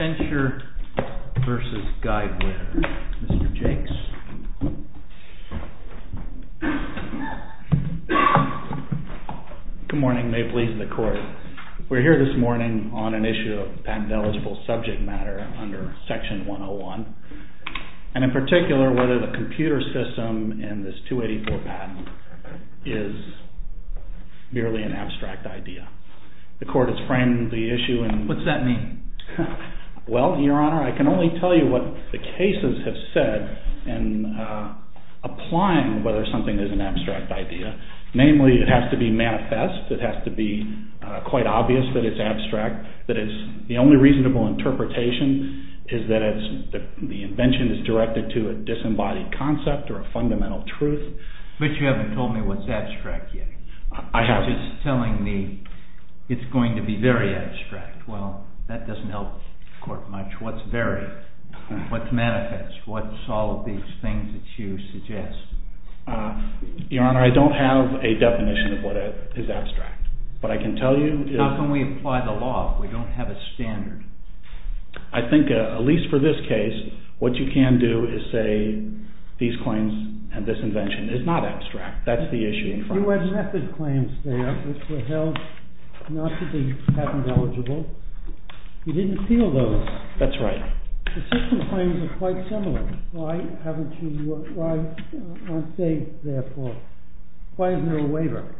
PRESENTER vs. GUIDEWIRE Mr. Jakes Good morning, may it please the Court. We're here this morning on an issue of patent-eligible subject matter under Section 101. And in particular, whether the computer system in this 284 patent is merely an abstract idea. The Court has framed the issue in... What's that mean? Well, Your Honor, I can only tell you what the cases have said in applying whether something is an abstract idea. Namely, it has to be manifest, it has to be quite obvious that it's abstract. The only reasonable interpretation is that the invention is directed to a disembodied concept or a fundamental truth. But you haven't told me what's abstract yet. You're just telling me it's going to be very abstract. Well, that doesn't help the Court much. What's very? What's manifest? What's all of these things that you suggest? Your Honor, I don't have a definition of what is abstract. What I can tell you is... How can we apply the law if we don't have a standard? I think at least for this case, what you can do is say these claims and this invention is not abstract. That's the issue in front of us. Well, you had method claims there which were held not to be patent eligible. You didn't appeal those. That's right. The system claims are quite similar. Why aren't they there for? Why isn't there a waiver?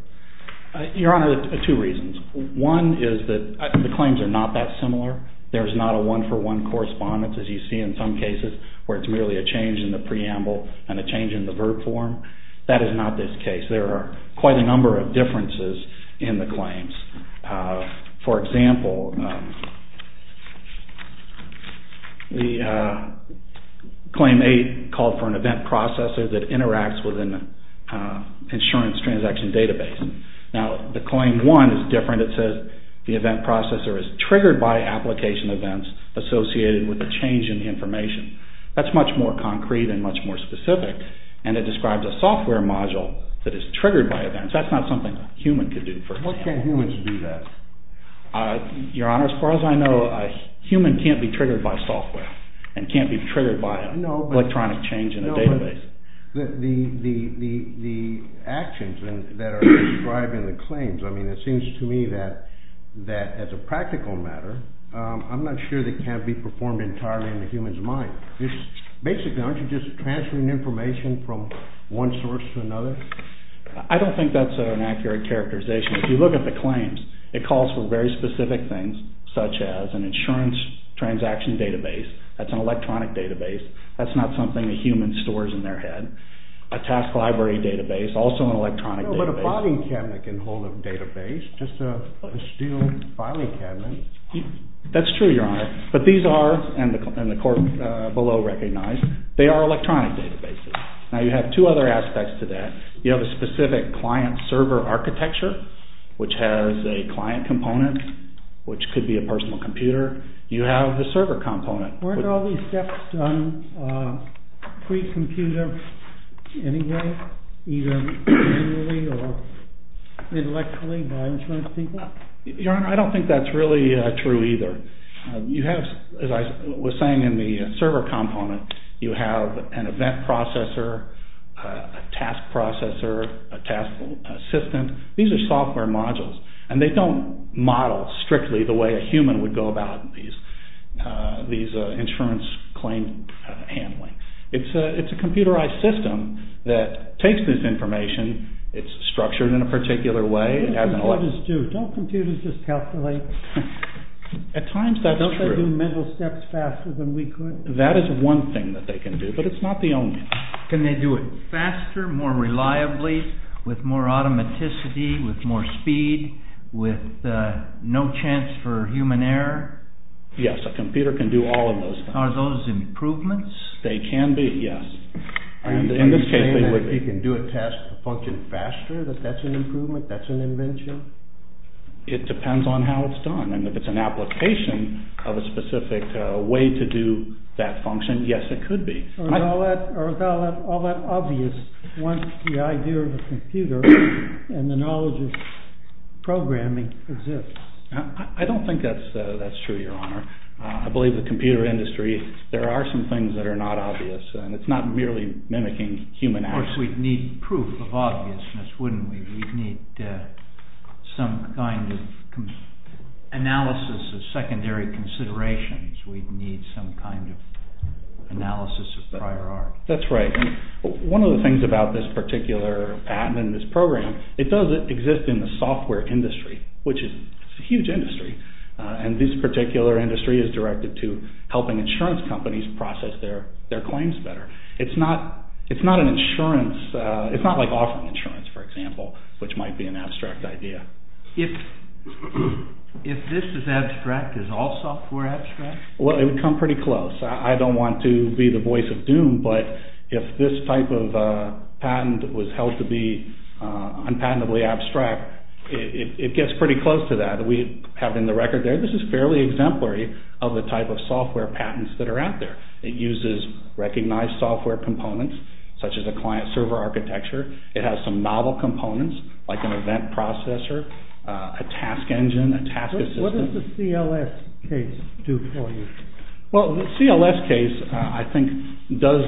Your Honor, two reasons. One is that the claims are not that similar. There's not a one-for-one correspondence as you see in some cases where it's merely a change in the preamble and a change in the verb form. That is not this case. There are quite a number of differences in the claims. For example, the Claim 8 called for an event processor that interacts with an insurance transaction database. Now, the Claim 1 is different. It says the event processor is triggered by application events associated with a change in the information. That's much more concrete and much more specific. And it describes a software module that is triggered by events. That's not something a human could do, for example. What can humans do then? Your Honor, as far as I know, a human can't be triggered by software and can't be triggered by electronic change in a database. No, but the actions that are described in the claims, I mean, it seems to me that as a practical matter, I'm not sure they can be performed entirely in the human's mind. Basically, aren't you just transferring information from one source to another? I don't think that's an accurate characterization. If you look at the claims, it calls for very specific things such as an insurance transaction database. That's an electronic database. That's not something a human stores in their head. A task library database, also an electronic database. No, but a filing cabinet can hold a database, just a steel filing cabinet. That's true, Your Honor. But these are, and the court below recognized, they are electronic databases. Now, you have two other aspects to that. You have a specific client-server architecture, which has a client component, which could be a personal computer. You have the server component. Weren't all these steps done pre-computer anyway, either manually or intellectually by insurance people? Your Honor, I don't think that's really true either. You have, as I was saying in the server component, you have an event processor, a task processor, a task assistant. These are software modules, and they don't model strictly the way a human would go about these insurance claim handling. It's a computerized system that takes this information. It's structured in a particular way. What do computers do? Don't computers just calculate? At times, that's true. Don't they do mental steps faster than we could? That is one thing that they can do, but it's not the only. Can they do it faster, more reliably, with more automaticity, with more speed, with no chance for human error? Yes, a computer can do all of those things. Are those improvements? They can be, yes. Are you saying that if you can do a task function faster, that that's an improvement, that's an invention? It depends on how it's done. And if it's an application of a specific way to do that function, yes, it could be. Or is all that obvious once the idea of a computer and the knowledge of programming exists? I don't think that's true, Your Honor. I believe the computer industry, there are some things that are not obvious, and it's not merely mimicking human action. Of course, we'd need proof of obviousness, wouldn't we? We'd need some kind of analysis of secondary considerations. We'd need some kind of analysis of prior art. That's right. One of the things about this particular patent and this program, it does exist in the software industry, which is a huge industry. And this particular industry is directed to helping insurance companies process their claims better. It's not an insurance, it's not like offering insurance, for example, which might be an abstract idea. If this is abstract, is all software abstract? Well, it would come pretty close. I don't want to be the voice of doom, but if this type of patent was held to be unpatentably abstract, it gets pretty close to that. We have it in the record there. This is fairly exemplary of the type of software patents that are out there. It uses recognized software components, such as a client-server architecture. It has some novel components, like an event processor, a task engine, a task assistant. What does the CLS case do for you? Well, the CLS case, I think, does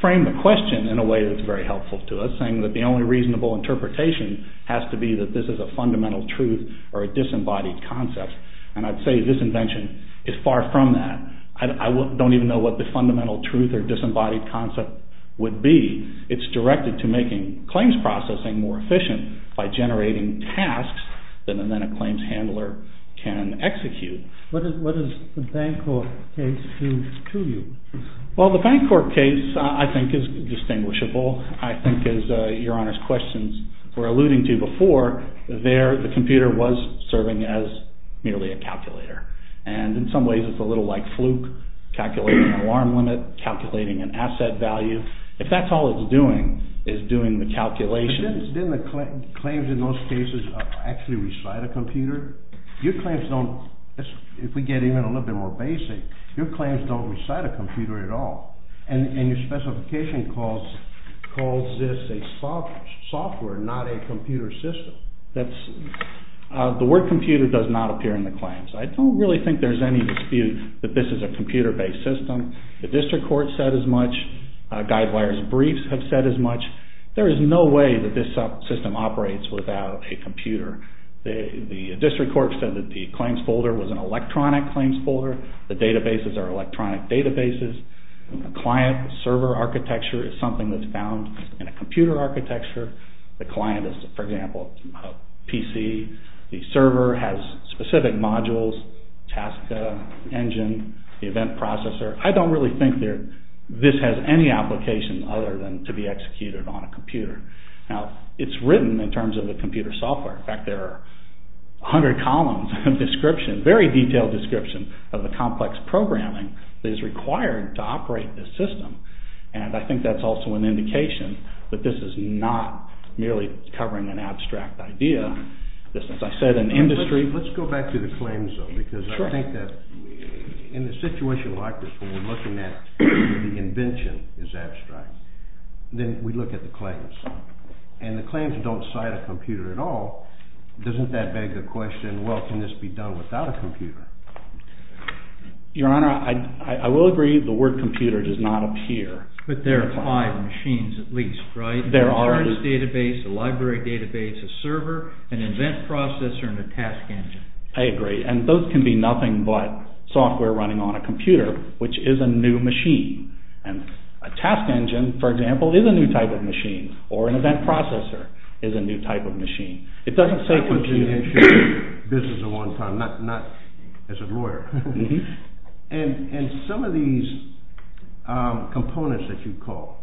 frame the question in a way that's very helpful to us, saying that the only reasonable interpretation has to be that this is a fundamental truth or a disembodied concept. And I'd say this invention is far from that. I don't even know what the fundamental truth or disembodied concept would be. It's directed to making claims processing more efficient by generating tasks that then a claims handler can execute. What does the Bancorp case do to you? Well, the Bancorp case, I think, is distinguishable. I think, as Your Honor's questions were alluding to before, there the computer was serving as merely a calculator. And in some ways it's a little like Fluke, calculating an alarm limit, calculating an asset value. If that's all it's doing is doing the calculations. But didn't the claims in those cases actually recite a computer? Your claims don't, if we get even a little bit more basic, your claims don't recite a computer at all. And your specification calls this a software, not a computer system. The word computer does not appear in the claims. I don't really think there's any dispute that this is a computer-based system. The district court said as much. Guidewire's briefs have said as much. There is no way that this system operates without a computer. The district court said that the claims folder was an electronic claims folder. The databases are electronic databases. The client server architecture is something that's found in a computer architecture. The client is, for example, a PC. The server has specific modules, task engine, event processor. I don't really think this has any application other than to be executed on a computer. Now, it's written in terms of a computer software. In fact, there are 100 columns of description, very detailed description, of the complex programming that is required to operate this system. And I think that's also an indication that this is not merely covering an abstract idea. This is, as I said, an industry. Let's go back to the claims, though, because I think that in a situation like this where we're looking at the invention as abstract, then we look at the claims. And the claims don't cite a computer at all. Doesn't that beg the question, well, can this be done without a computer? Your Honor, I will agree the word computer does not appear. But there are five machines at least, right? There are. There's a database, a library database, a server, an event processor, and a task engine. I agree. And those can be nothing but software running on a computer, which is a new machine. And a task engine, for example, is a new type of machine, or an event processor is a new type of machine. It doesn't say computer. I was in the insurance business at one time, not as a lawyer. And some of these components that you call,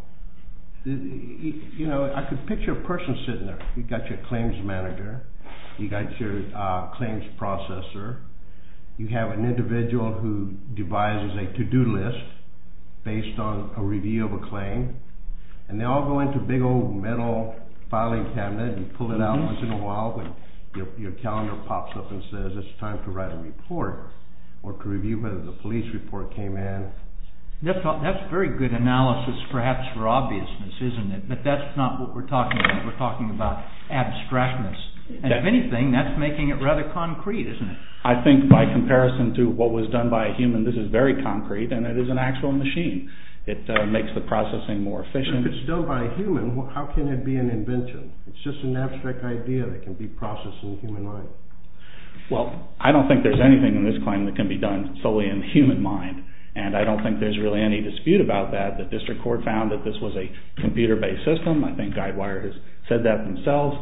you know, I could picture a person sitting there. You've got your claims manager. You've got your claims processor. You have an individual who devises a to-do list based on a review of a claim. And they all go into a big old metal filing cabinet. You pull it out once in a while when your calendar pops up and says it's time to write a report or to review whether the police report came in. That's a very good analysis perhaps for obviousness, isn't it? But that's not what we're talking about. We're talking about abstractness. And if anything, that's making it rather concrete, isn't it? I think by comparison to what was done by a human, this is very concrete, and it is an actual machine. It makes the processing more efficient. If it's done by a human, how can it be an invention? It's just an abstract idea that can be processed in the human mind. Well, I don't think there's anything in this claim that can be done solely in the human mind. And I don't think there's really any dispute about that. The district court found that this was a computer-based system. I think GuideWire has said that themselves.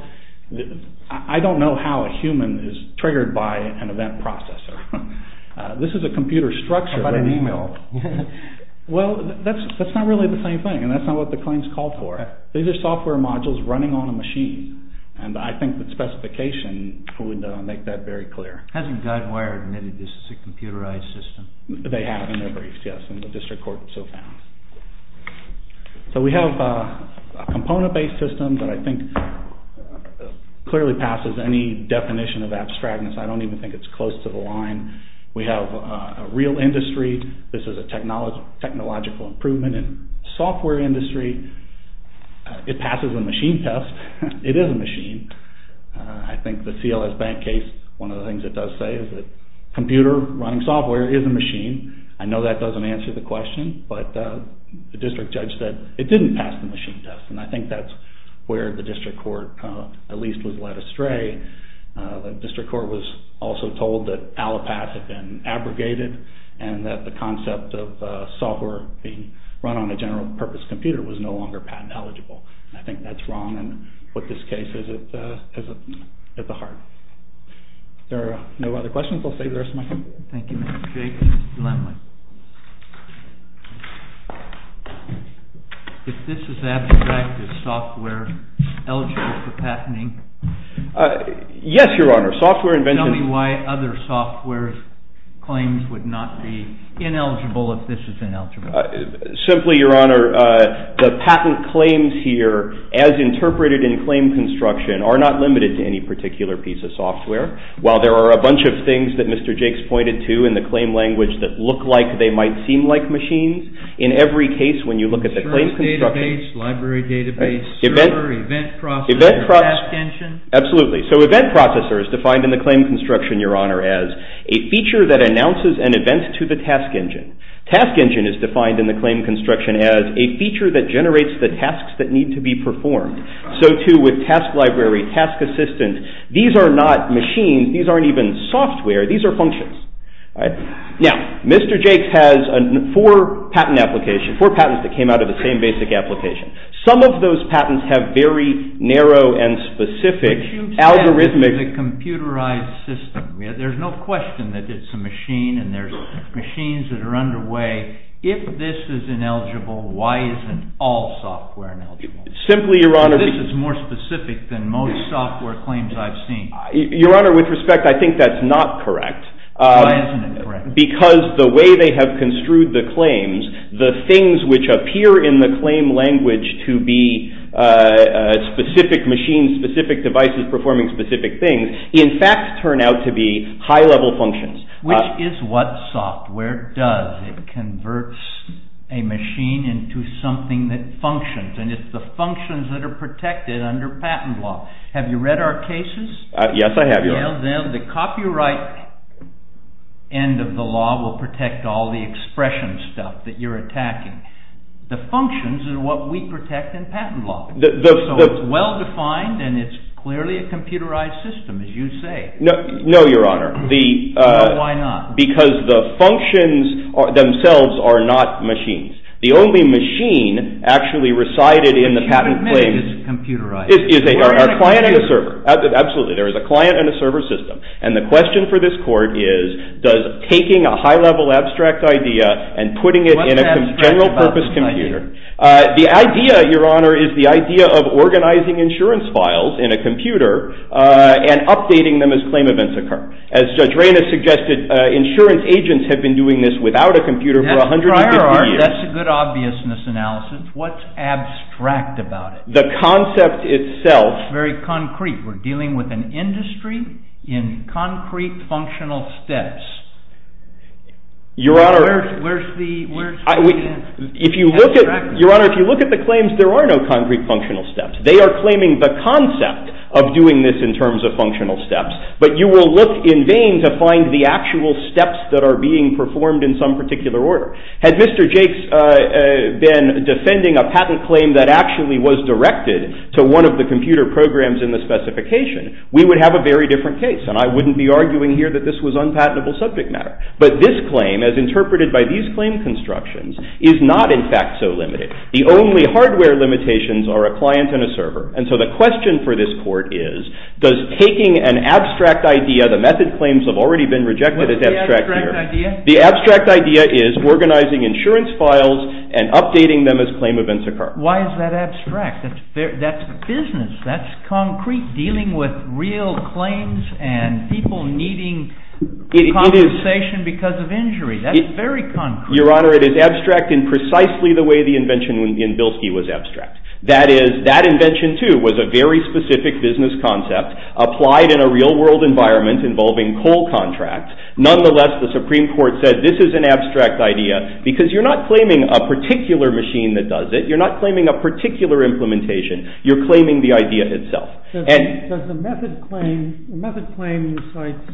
I don't know how a human is triggered by an event processor. This is a computer structure. How about an email? Well, that's not really the same thing, and that's not what the claims call for. These are software modules running on a machine, and I think the specification would make that very clear. Hasn't GuideWire admitted this is a computerized system? They have in their briefs, yes, and the district court so found. So we have a component-based system that I think clearly passes any definition of abstractness. I don't even think it's close to the line. We have a real industry. This is a technological improvement in software industry. It passes the machine test. It is a machine. I think the CLS Bank case, one of the things it does say is that computer-running software is a machine. I know that doesn't answer the question, but the district judge said it didn't pass the machine test, and I think that's where the district court at least was led astray. The district court was also told that Allopath had been abrogated and that the concept of software being run on a general-purpose computer was no longer patent eligible. I think that's wrong, and what this case is at the heart. Are there no other questions? I'll save the rest of my time. Thank you, Mr. Jake. Mr. Lemley. If this is abstract, is software eligible for patenting? Yes, Your Honor. Tell me why other software's claims would not be ineligible if this is ineligible. Simply, Your Honor, the patent claims here, as interpreted in claim construction, are not limited to any particular piece of software. While there are a bunch of things that Mr. Jake's pointed to in the claim language that look like they might seem like machines, in every case when you look at the claim construction, library database, server, event processor, task engine. Absolutely. So event processor is defined in the claim construction, Your Honor, as a feature that announces an event to the task engine. Task engine is defined in the claim construction as a feature that generates the tasks that need to be performed. So, too, with task library, task assistant, these are not machines. These aren't even software. These are functions. Now, Mr. Jake has four patent applications, four patents that came out of the same basic application. Some of those patents have very narrow and specific algorithmic But you said it was a computerized system. There's no question that it's a machine and there's machines that are underway. If this is ineligible, why isn't all software ineligible? Simply, Your Honor, This is more specific than most software claims I've seen. Your Honor, with respect, I think that's not correct. Why isn't it correct? Because the way they have construed the claims, the things which appear in the claim language to be specific machines, specific devices performing specific things, in fact turn out to be high-level functions. Which is what software does. It converts a machine into something that functions and it's the functions that are protected under patent law. Have you read our cases? Yes, I have, Your Honor. The copyright end of the law will protect all the expression stuff that you're attacking. The functions are what we protect in patent law. So it's well-defined and it's clearly a computerized system, as you say. No, Your Honor. No, why not? Because the functions themselves are not machines. The only machine actually recited in the patent claim is a client and a server. Absolutely. There is a client and a server system. And the question for this court is, does taking a high-level abstract idea and putting it in a general-purpose computer. The idea, Your Honor, is the idea of organizing insurance files in a computer and updating them as claim events occur. As Judge Reina suggested, insurance agents have been doing this without a computer for 150 years. That's a good obviousness analysis. What's abstract about it? The concept itself. Very concrete. We're dealing with an industry in concrete functional steps. Your Honor, if you look at the claims, there are no concrete functional steps. They are claiming the concept of doing this in terms of functional steps. But you will look in vain to find the actual steps that are being performed in some particular order. Had Mr. Jakes been defending a patent claim that actually was directed to one of the computer programs in the specification, we would have a very different case. And I wouldn't be arguing here that this was unpatentable subject matter. But this claim, as interpreted by these claim constructions, is not in fact so limited. The only hardware limitations are a client and a server. And so the question for this court is, does taking an abstract idea, the method claims have already been rejected as abstract here. What's the abstract idea? The abstract idea is organizing insurance files and updating them as claim events occur. Why is that abstract? That's business. That's concrete. Dealing with real claims and people needing compensation because of injury. That's very concrete. Your Honor, it is abstract in precisely the way the invention in Bilski was abstract. That is, that invention, too, was a very specific business concept applied in a real-world environment involving coal contracts. Nonetheless, the Supreme Court said this is an abstract idea because you're not claiming a particular machine that does it. You're not claiming a particular implementation. You're claiming the idea itself. Does the method claim, the method claim incites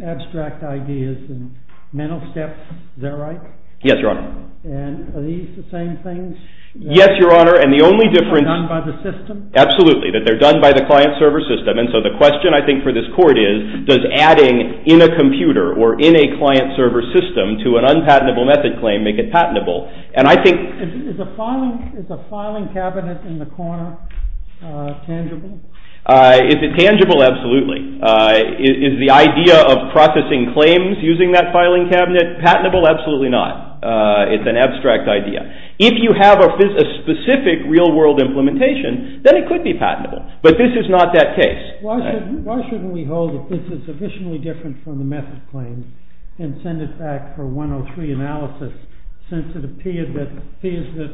abstract ideas and mental steps. Is that right? Yes, Your Honor. And are these the same things? Yes, Your Honor. And the only difference That they're done by the system? Absolutely. That they're done by the client-server system. And so the question, I think, for this Court is, does adding in a computer or in a client-server system to an unpatentable method claim make it patentable? And I think Is a filing cabinet in the corner tangible? Is it tangible? Absolutely. Is the idea of processing claims using that filing cabinet patentable? Absolutely not. It's an abstract idea. If you have a specific real-world implementation, then it could be patentable. But this is not that case. Why shouldn't we hold that this is sufficiently different from the method claim and send it back for 103 analysis, since it appears that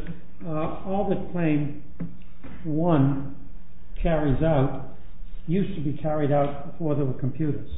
all that Claim 1 carries out used to be carried out before there were computers?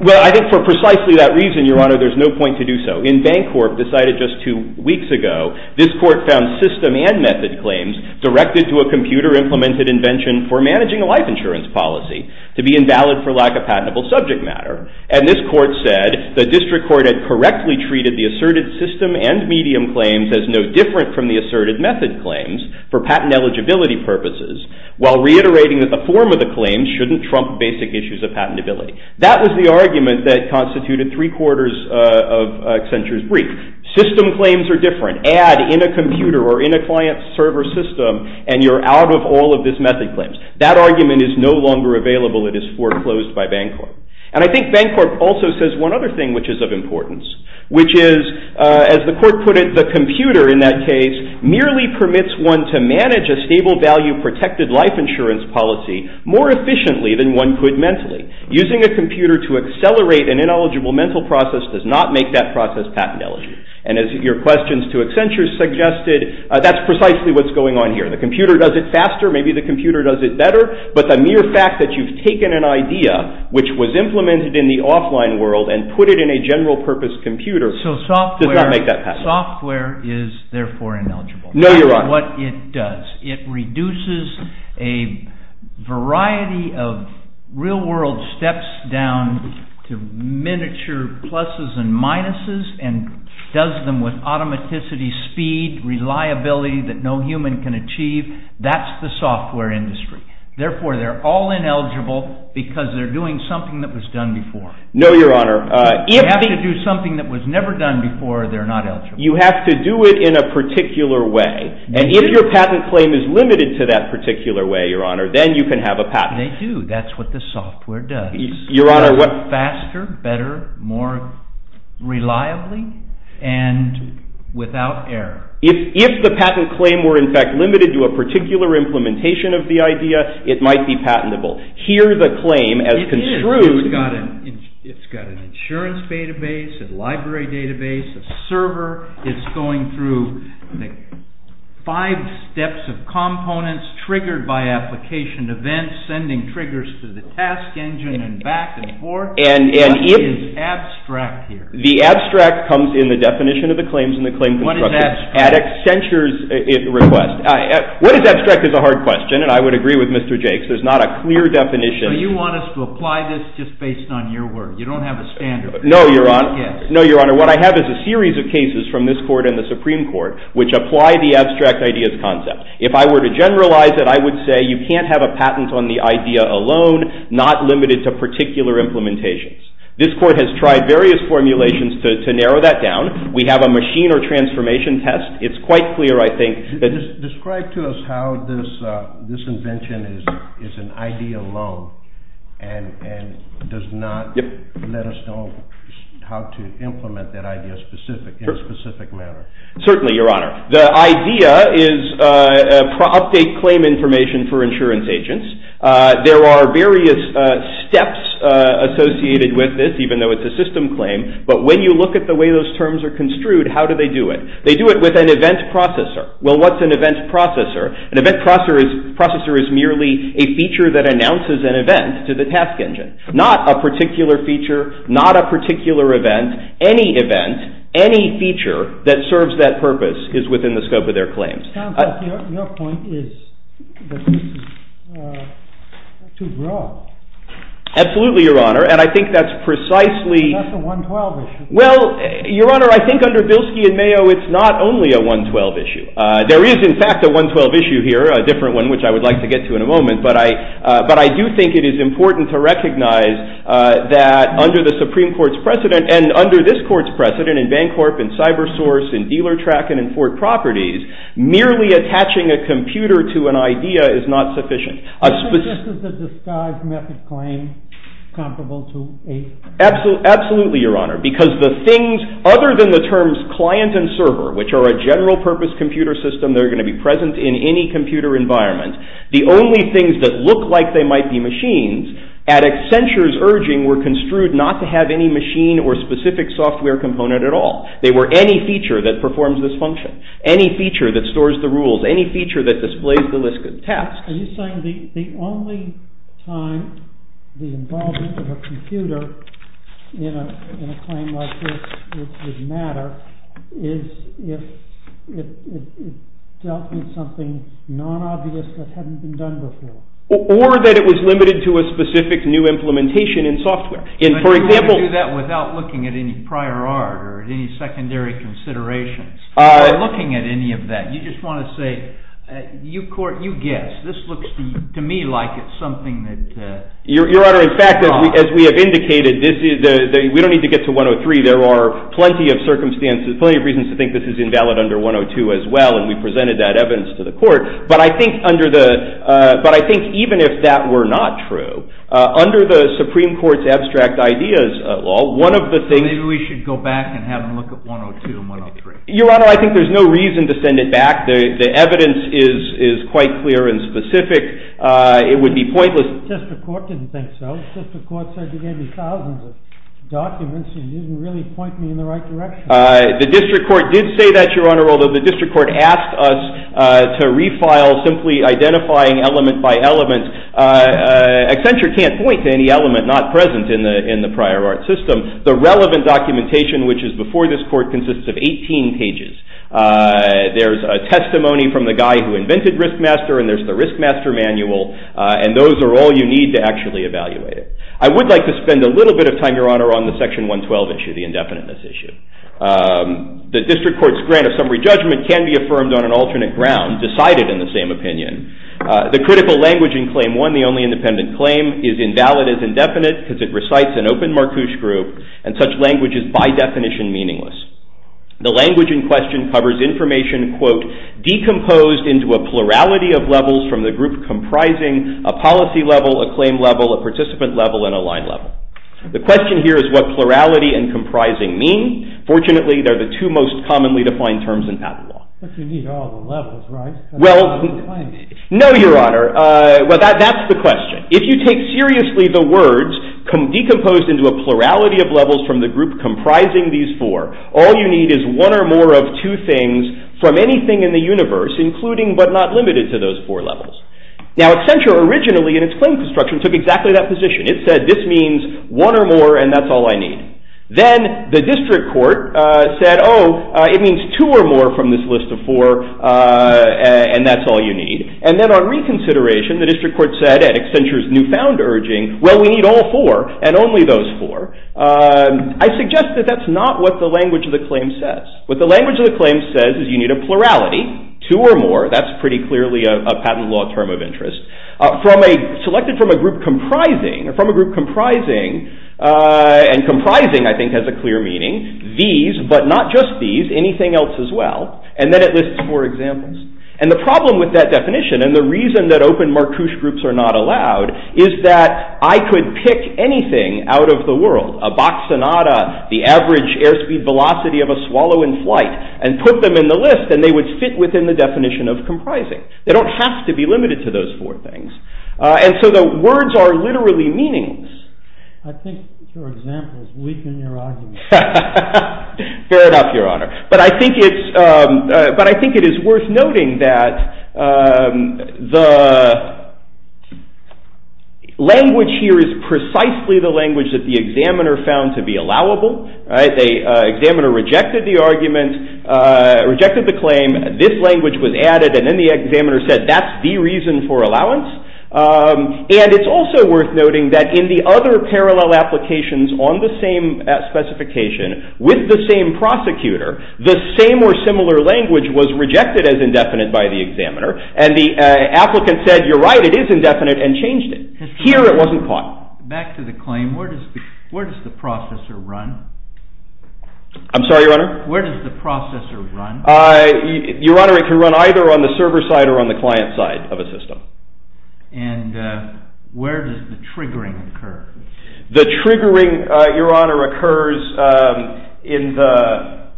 Well, I think for precisely that reason, Your Honor, there's no point to do so. In Bancorp decided just two weeks ago, this Court found system and method claims directed to a computer-implemented invention for managing a life insurance policy to be invalid for lack of patentable subject matter. And this Court said the district court had correctly treated the asserted system and medium claims as no different from the asserted method claims for patent eligibility purposes, while reiterating that the form of the claims shouldn't trump basic issues of patentability. That was the argument that constituted three-quarters of Accenture's brief. System claims are different. You can't add in a computer or in a client server system and you're out of all of this method claims. That argument is no longer available. It is foreclosed by Bancorp. And I think Bancorp also says one other thing, which is of importance, which is, as the Court put it, the computer, in that case, merely permits one to manage a stable-value protected life insurance policy more efficiently than one could mentally. Using a computer to accelerate an ineligible mental process does not make that process patent eligible. And as your questions to Accenture suggested, that's precisely what's going on here. The computer does it faster, maybe the computer does it better, but the mere fact that you've taken an idea which was implemented in the offline world and put it in a general-purpose computer does not make that patent. So software is therefore ineligible. No, you're right. What it does, it reduces a variety of real-world steps down to miniature pluses and minuses and does them with automaticity, speed, reliability that no human can achieve. That's the software industry. Therefore, they're all ineligible because they're doing something that was done before. No, Your Honor. If they have to do something that was never done before, they're not eligible. You have to do it in a particular way. And if your patent claim is limited to that particular way, Your Honor, then you can have a patent. They do. That's what the software does. Your Honor, what... better, more reliably, and without error. If the patent claim were, in fact, limited to a particular implementation of the idea, it might be patentable. Here, the claim, as construed... It is. It's got an insurance database, a library database, a server. It's going through five steps of components triggered by application events, sending triggers to the task engine and back and forth. It is abstract here. The abstract comes in the definition of the claims and the claim construction. What is abstract? At extensure's request. What is abstract is a hard question, and I would agree with Mr. Jakes. There's not a clear definition. So you want us to apply this just based on your work. You don't have a standard. No, Your Honor. No, Your Honor. What I have is a series of cases from this Court and the Supreme Court which apply the abstract ideas concept. If I were to generalize it, I would say you can't have a patent on the idea alone, not limited to particular implementations. This Court has tried various formulations to narrow that down. We have a machine or transformation test. It's quite clear, I think. Describe to us how this invention is an idea alone and does not let us know how to implement that idea in a specific manner. Certainly, Your Honor. The idea is update claim information for insurance agents. There are various steps associated with this, even though it's a system claim. But when you look at the way those terms are construed, how do they do it? They do it with an event processor. Well, what's an event processor? An event processor is merely a feature that announces an event to the task engine. Not a particular feature, not a particular event. Any event, any feature that serves that purpose is within the scope of their claims. It sounds like your point is that this is too broad. Absolutely, Your Honor. And I think that's precisely. That's a 112 issue. Well, Your Honor, I think under Bilski and Mayo, it's not only a 112 issue. There is, in fact, a 112 issue here, a different one which I would like to get to in a moment. But I do think it is important to recognize that under the Supreme Court's precedent and under this Court's precedent in Bancorp and CyberSource and DealerTrack and in Fort Properties, merely attaching a computer to an idea is not sufficient. I think this is a disguise method claim comparable to a... Absolutely, Your Honor, because the things, other than the terms client and server, which are a general purpose computer system that are going to be present in any computer environment, the only things that look like they might be machines at Accenture's urging were construed not to have any machine or specific software component at all. They were any feature that performs this function, any feature that stores the rules, any feature that displays the list of tasks. Are you saying the only time the involvement of a computer in a claim like this would matter is if it dealt with something non-obvious that hadn't been done before? Or that it was limited to a specific new implementation in software. But you wouldn't do that without looking at any prior art or any secondary considerations. Or looking at any of that. You just want to say, you guess. This looks to me like it's something that... Your Honor, in fact, as we have indicated, we don't need to get to 103. There are plenty of circumstances, plenty of reasons to think this is invalid under 102 as well, and we presented that evidence to the court. But I think even if that were not true, under the Supreme Court's abstract ideas law, one of the things... Maybe we should go back and have them look at 102 and 103. Your Honor, I think there's no reason to send it back. The evidence is quite clear and specific. It would be pointless. The district court didn't think so. The district court said you gave me thousands of documents and you didn't really point me in the right direction. The district court did say that, Your Honor, although the district court asked us to refile simply identifying element by element. Accenture can't point to any element not present in the prior art system. The relevant documentation, which is before this court, consists of 18 pages. There's a testimony from the guy who invented Riskmaster, and there's the Riskmaster manual, and those are all you need to actually evaluate it. I would like to spend a little bit of time, Your Honor, on the Section 112 issue, the indefiniteness issue. The district court's grant of summary judgment can be affirmed on an alternate ground, decided in the same opinion. The critical language in Claim 1, the only independent claim, is invalid as indefinite because it recites an open Marcouche group, and such language is by definition meaningless. The language in question covers information, quote, decomposed into a plurality of levels from the group comprising a policy level, a claim level, a participant level, and a line level. The question here is what plurality and comprising mean. Fortunately, they're the two most commonly defined terms in patent law. But you need all the levels, right? Well, no, Your Honor. That's the question. If you take seriously the words decomposed into a plurality of levels from the group comprising these four, all you need is one or more of two things from anything in the universe, including but not limited to those four levels. Now, Accenture originally, in its claim construction, took exactly that position. It said, this means one or more, and that's all I need. Then the district court said, oh, it means two or more from this list of four, and that's all you need. And then on reconsideration, the district court said at Accenture's newfound urging, well, we need all four and only those four. I suggest that that's not what the language of the claim says. What the language of the claim says is you need a plurality, two or more. That's pretty clearly a patent law term of interest. Selected from a group comprising, and comprising, I think, has a clear meaning, these, but not just these, anything else as well. And then it lists four examples. And the problem with that definition, and the reason that open marquoise groups are not allowed, is that I could pick anything out of the world, a box sonata, the average airspeed velocity of a swallow in flight, and put them in the list, and they would fit within the definition of comprising. They don't have to be limited to those four things. And so the words are literally meaningless. I think your example is weak in your argument. Fair enough, Your Honor. But I think it is worth noting that the language here is precisely the language that the examiner found to be allowable. The examiner rejected the argument, rejected the claim. This language was added, and then the examiner said that's the reason for allowance. And it's also worth noting that in the other parallel applications on the same specification with the same prosecutor, the same or similar language was rejected as indefinite by the examiner. And the applicant said, you're right, it is indefinite, and changed it. Here it wasn't caught. Back to the claim. Where does the processor run? I'm sorry, Your Honor? Where does the processor run? Your Honor, it can run either on the server side or on the client side of a system. And where does the triggering occur? The triggering, Your Honor, occurs in the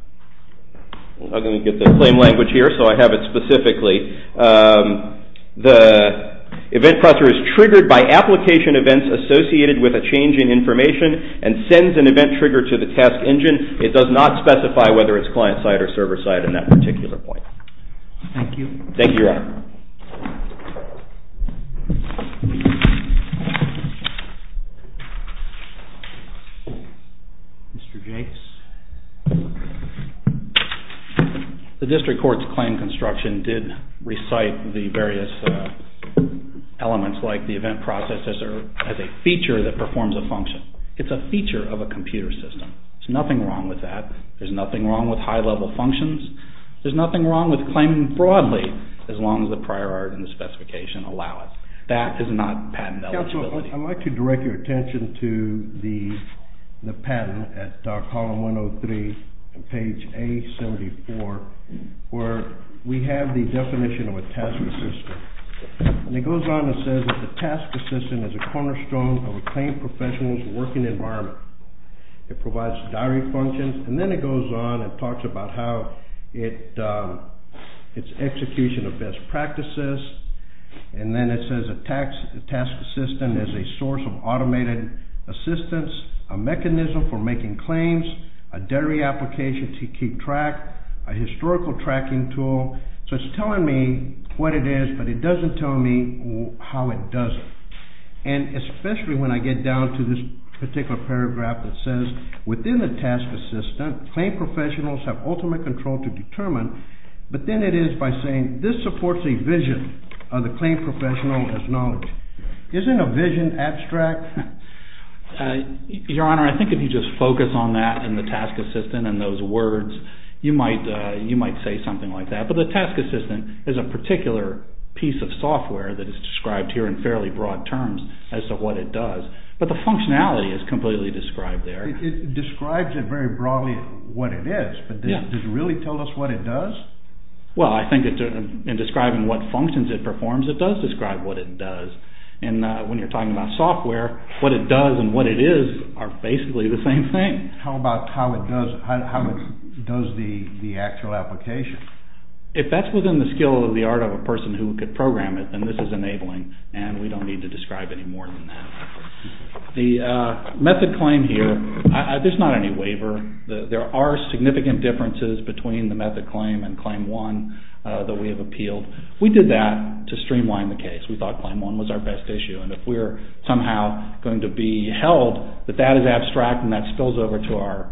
claim language here, so I have it specifically. The event processor is triggered by application events associated with a change in information and sends an event trigger to the task engine. It does not specify whether it's client side or server side Thank you. Thank you, Your Honor. Mr. Gates? The district court's claim construction did recite the various elements like the event processor as a feature that performs a function. It's a feature of a computer system. There's nothing wrong with that. There's nothing wrong with high level functions. There's nothing wrong with claiming broadly, as long as the prior art and the specification allow it. That is not patent eligibility. I'd like to direct your attention to the patent at column 103, page A74, where we have the definition of a task assistant. And it goes on and says that the task assistant is a cornerstone of a claim professional's working environment. It provides diary functions. And then it goes on and talks about how it's execution of best practices. And then it says a task assistant is a source of automated assistance, a mechanism for making claims, a diary application to keep track, a historical tracking tool. So it's telling me what it is, but it doesn't tell me how it does it. And especially when I get down to this particular paragraph claim professionals have ultimate control to determine. But then it is by saying, this supports a vision of the claim professional as knowledge. Isn't a vision abstract? Your Honor, I think if you just focus on that and the task assistant and those words, you might say something like that. But the task assistant is a particular piece of software that is described here in fairly broad terms as to what it does. But the functionality is completely described there. It describes it very broadly, what it is. But does it really tell us what it does? Well, I think in describing what functions it performs, it does describe what it does. And when you're talking about software, what it does and what it is are basically the same thing. How about how it does the actual application? If that's within the skill of the art of a person who could program it, then this is enabling, and we don't need to describe any more than that. The method claim here, there's not any waiver. There are significant differences between the method claim and claim one that we have appealed. We did that to streamline the case. We thought claim one was our best issue. And if we're somehow going to be held that that is abstract and that spills over to our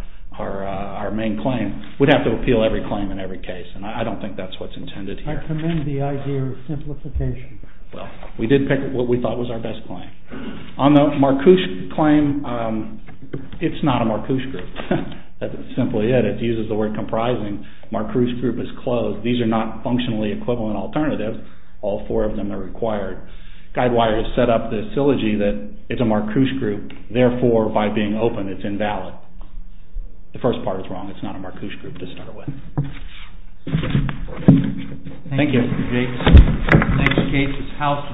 main claim, we'd have to appeal every claim in every case. And I don't think that's what's intended here. I commend the idea of simplification. Well, we did pick what we thought was our best claim. On the Marcouche claim, it's not a Marcouche group. That's simply it. It uses the word comprising. Marcouche group is closed. These are not functionally equivalent alternatives. All four of them are required. Guidewire has set up this syllogy that it's a Marcouche group, therefore, by being open, it's invalid. The first part is wrong. It's not a Marcouche group to start with. Thank you. The next case is House versus the United States.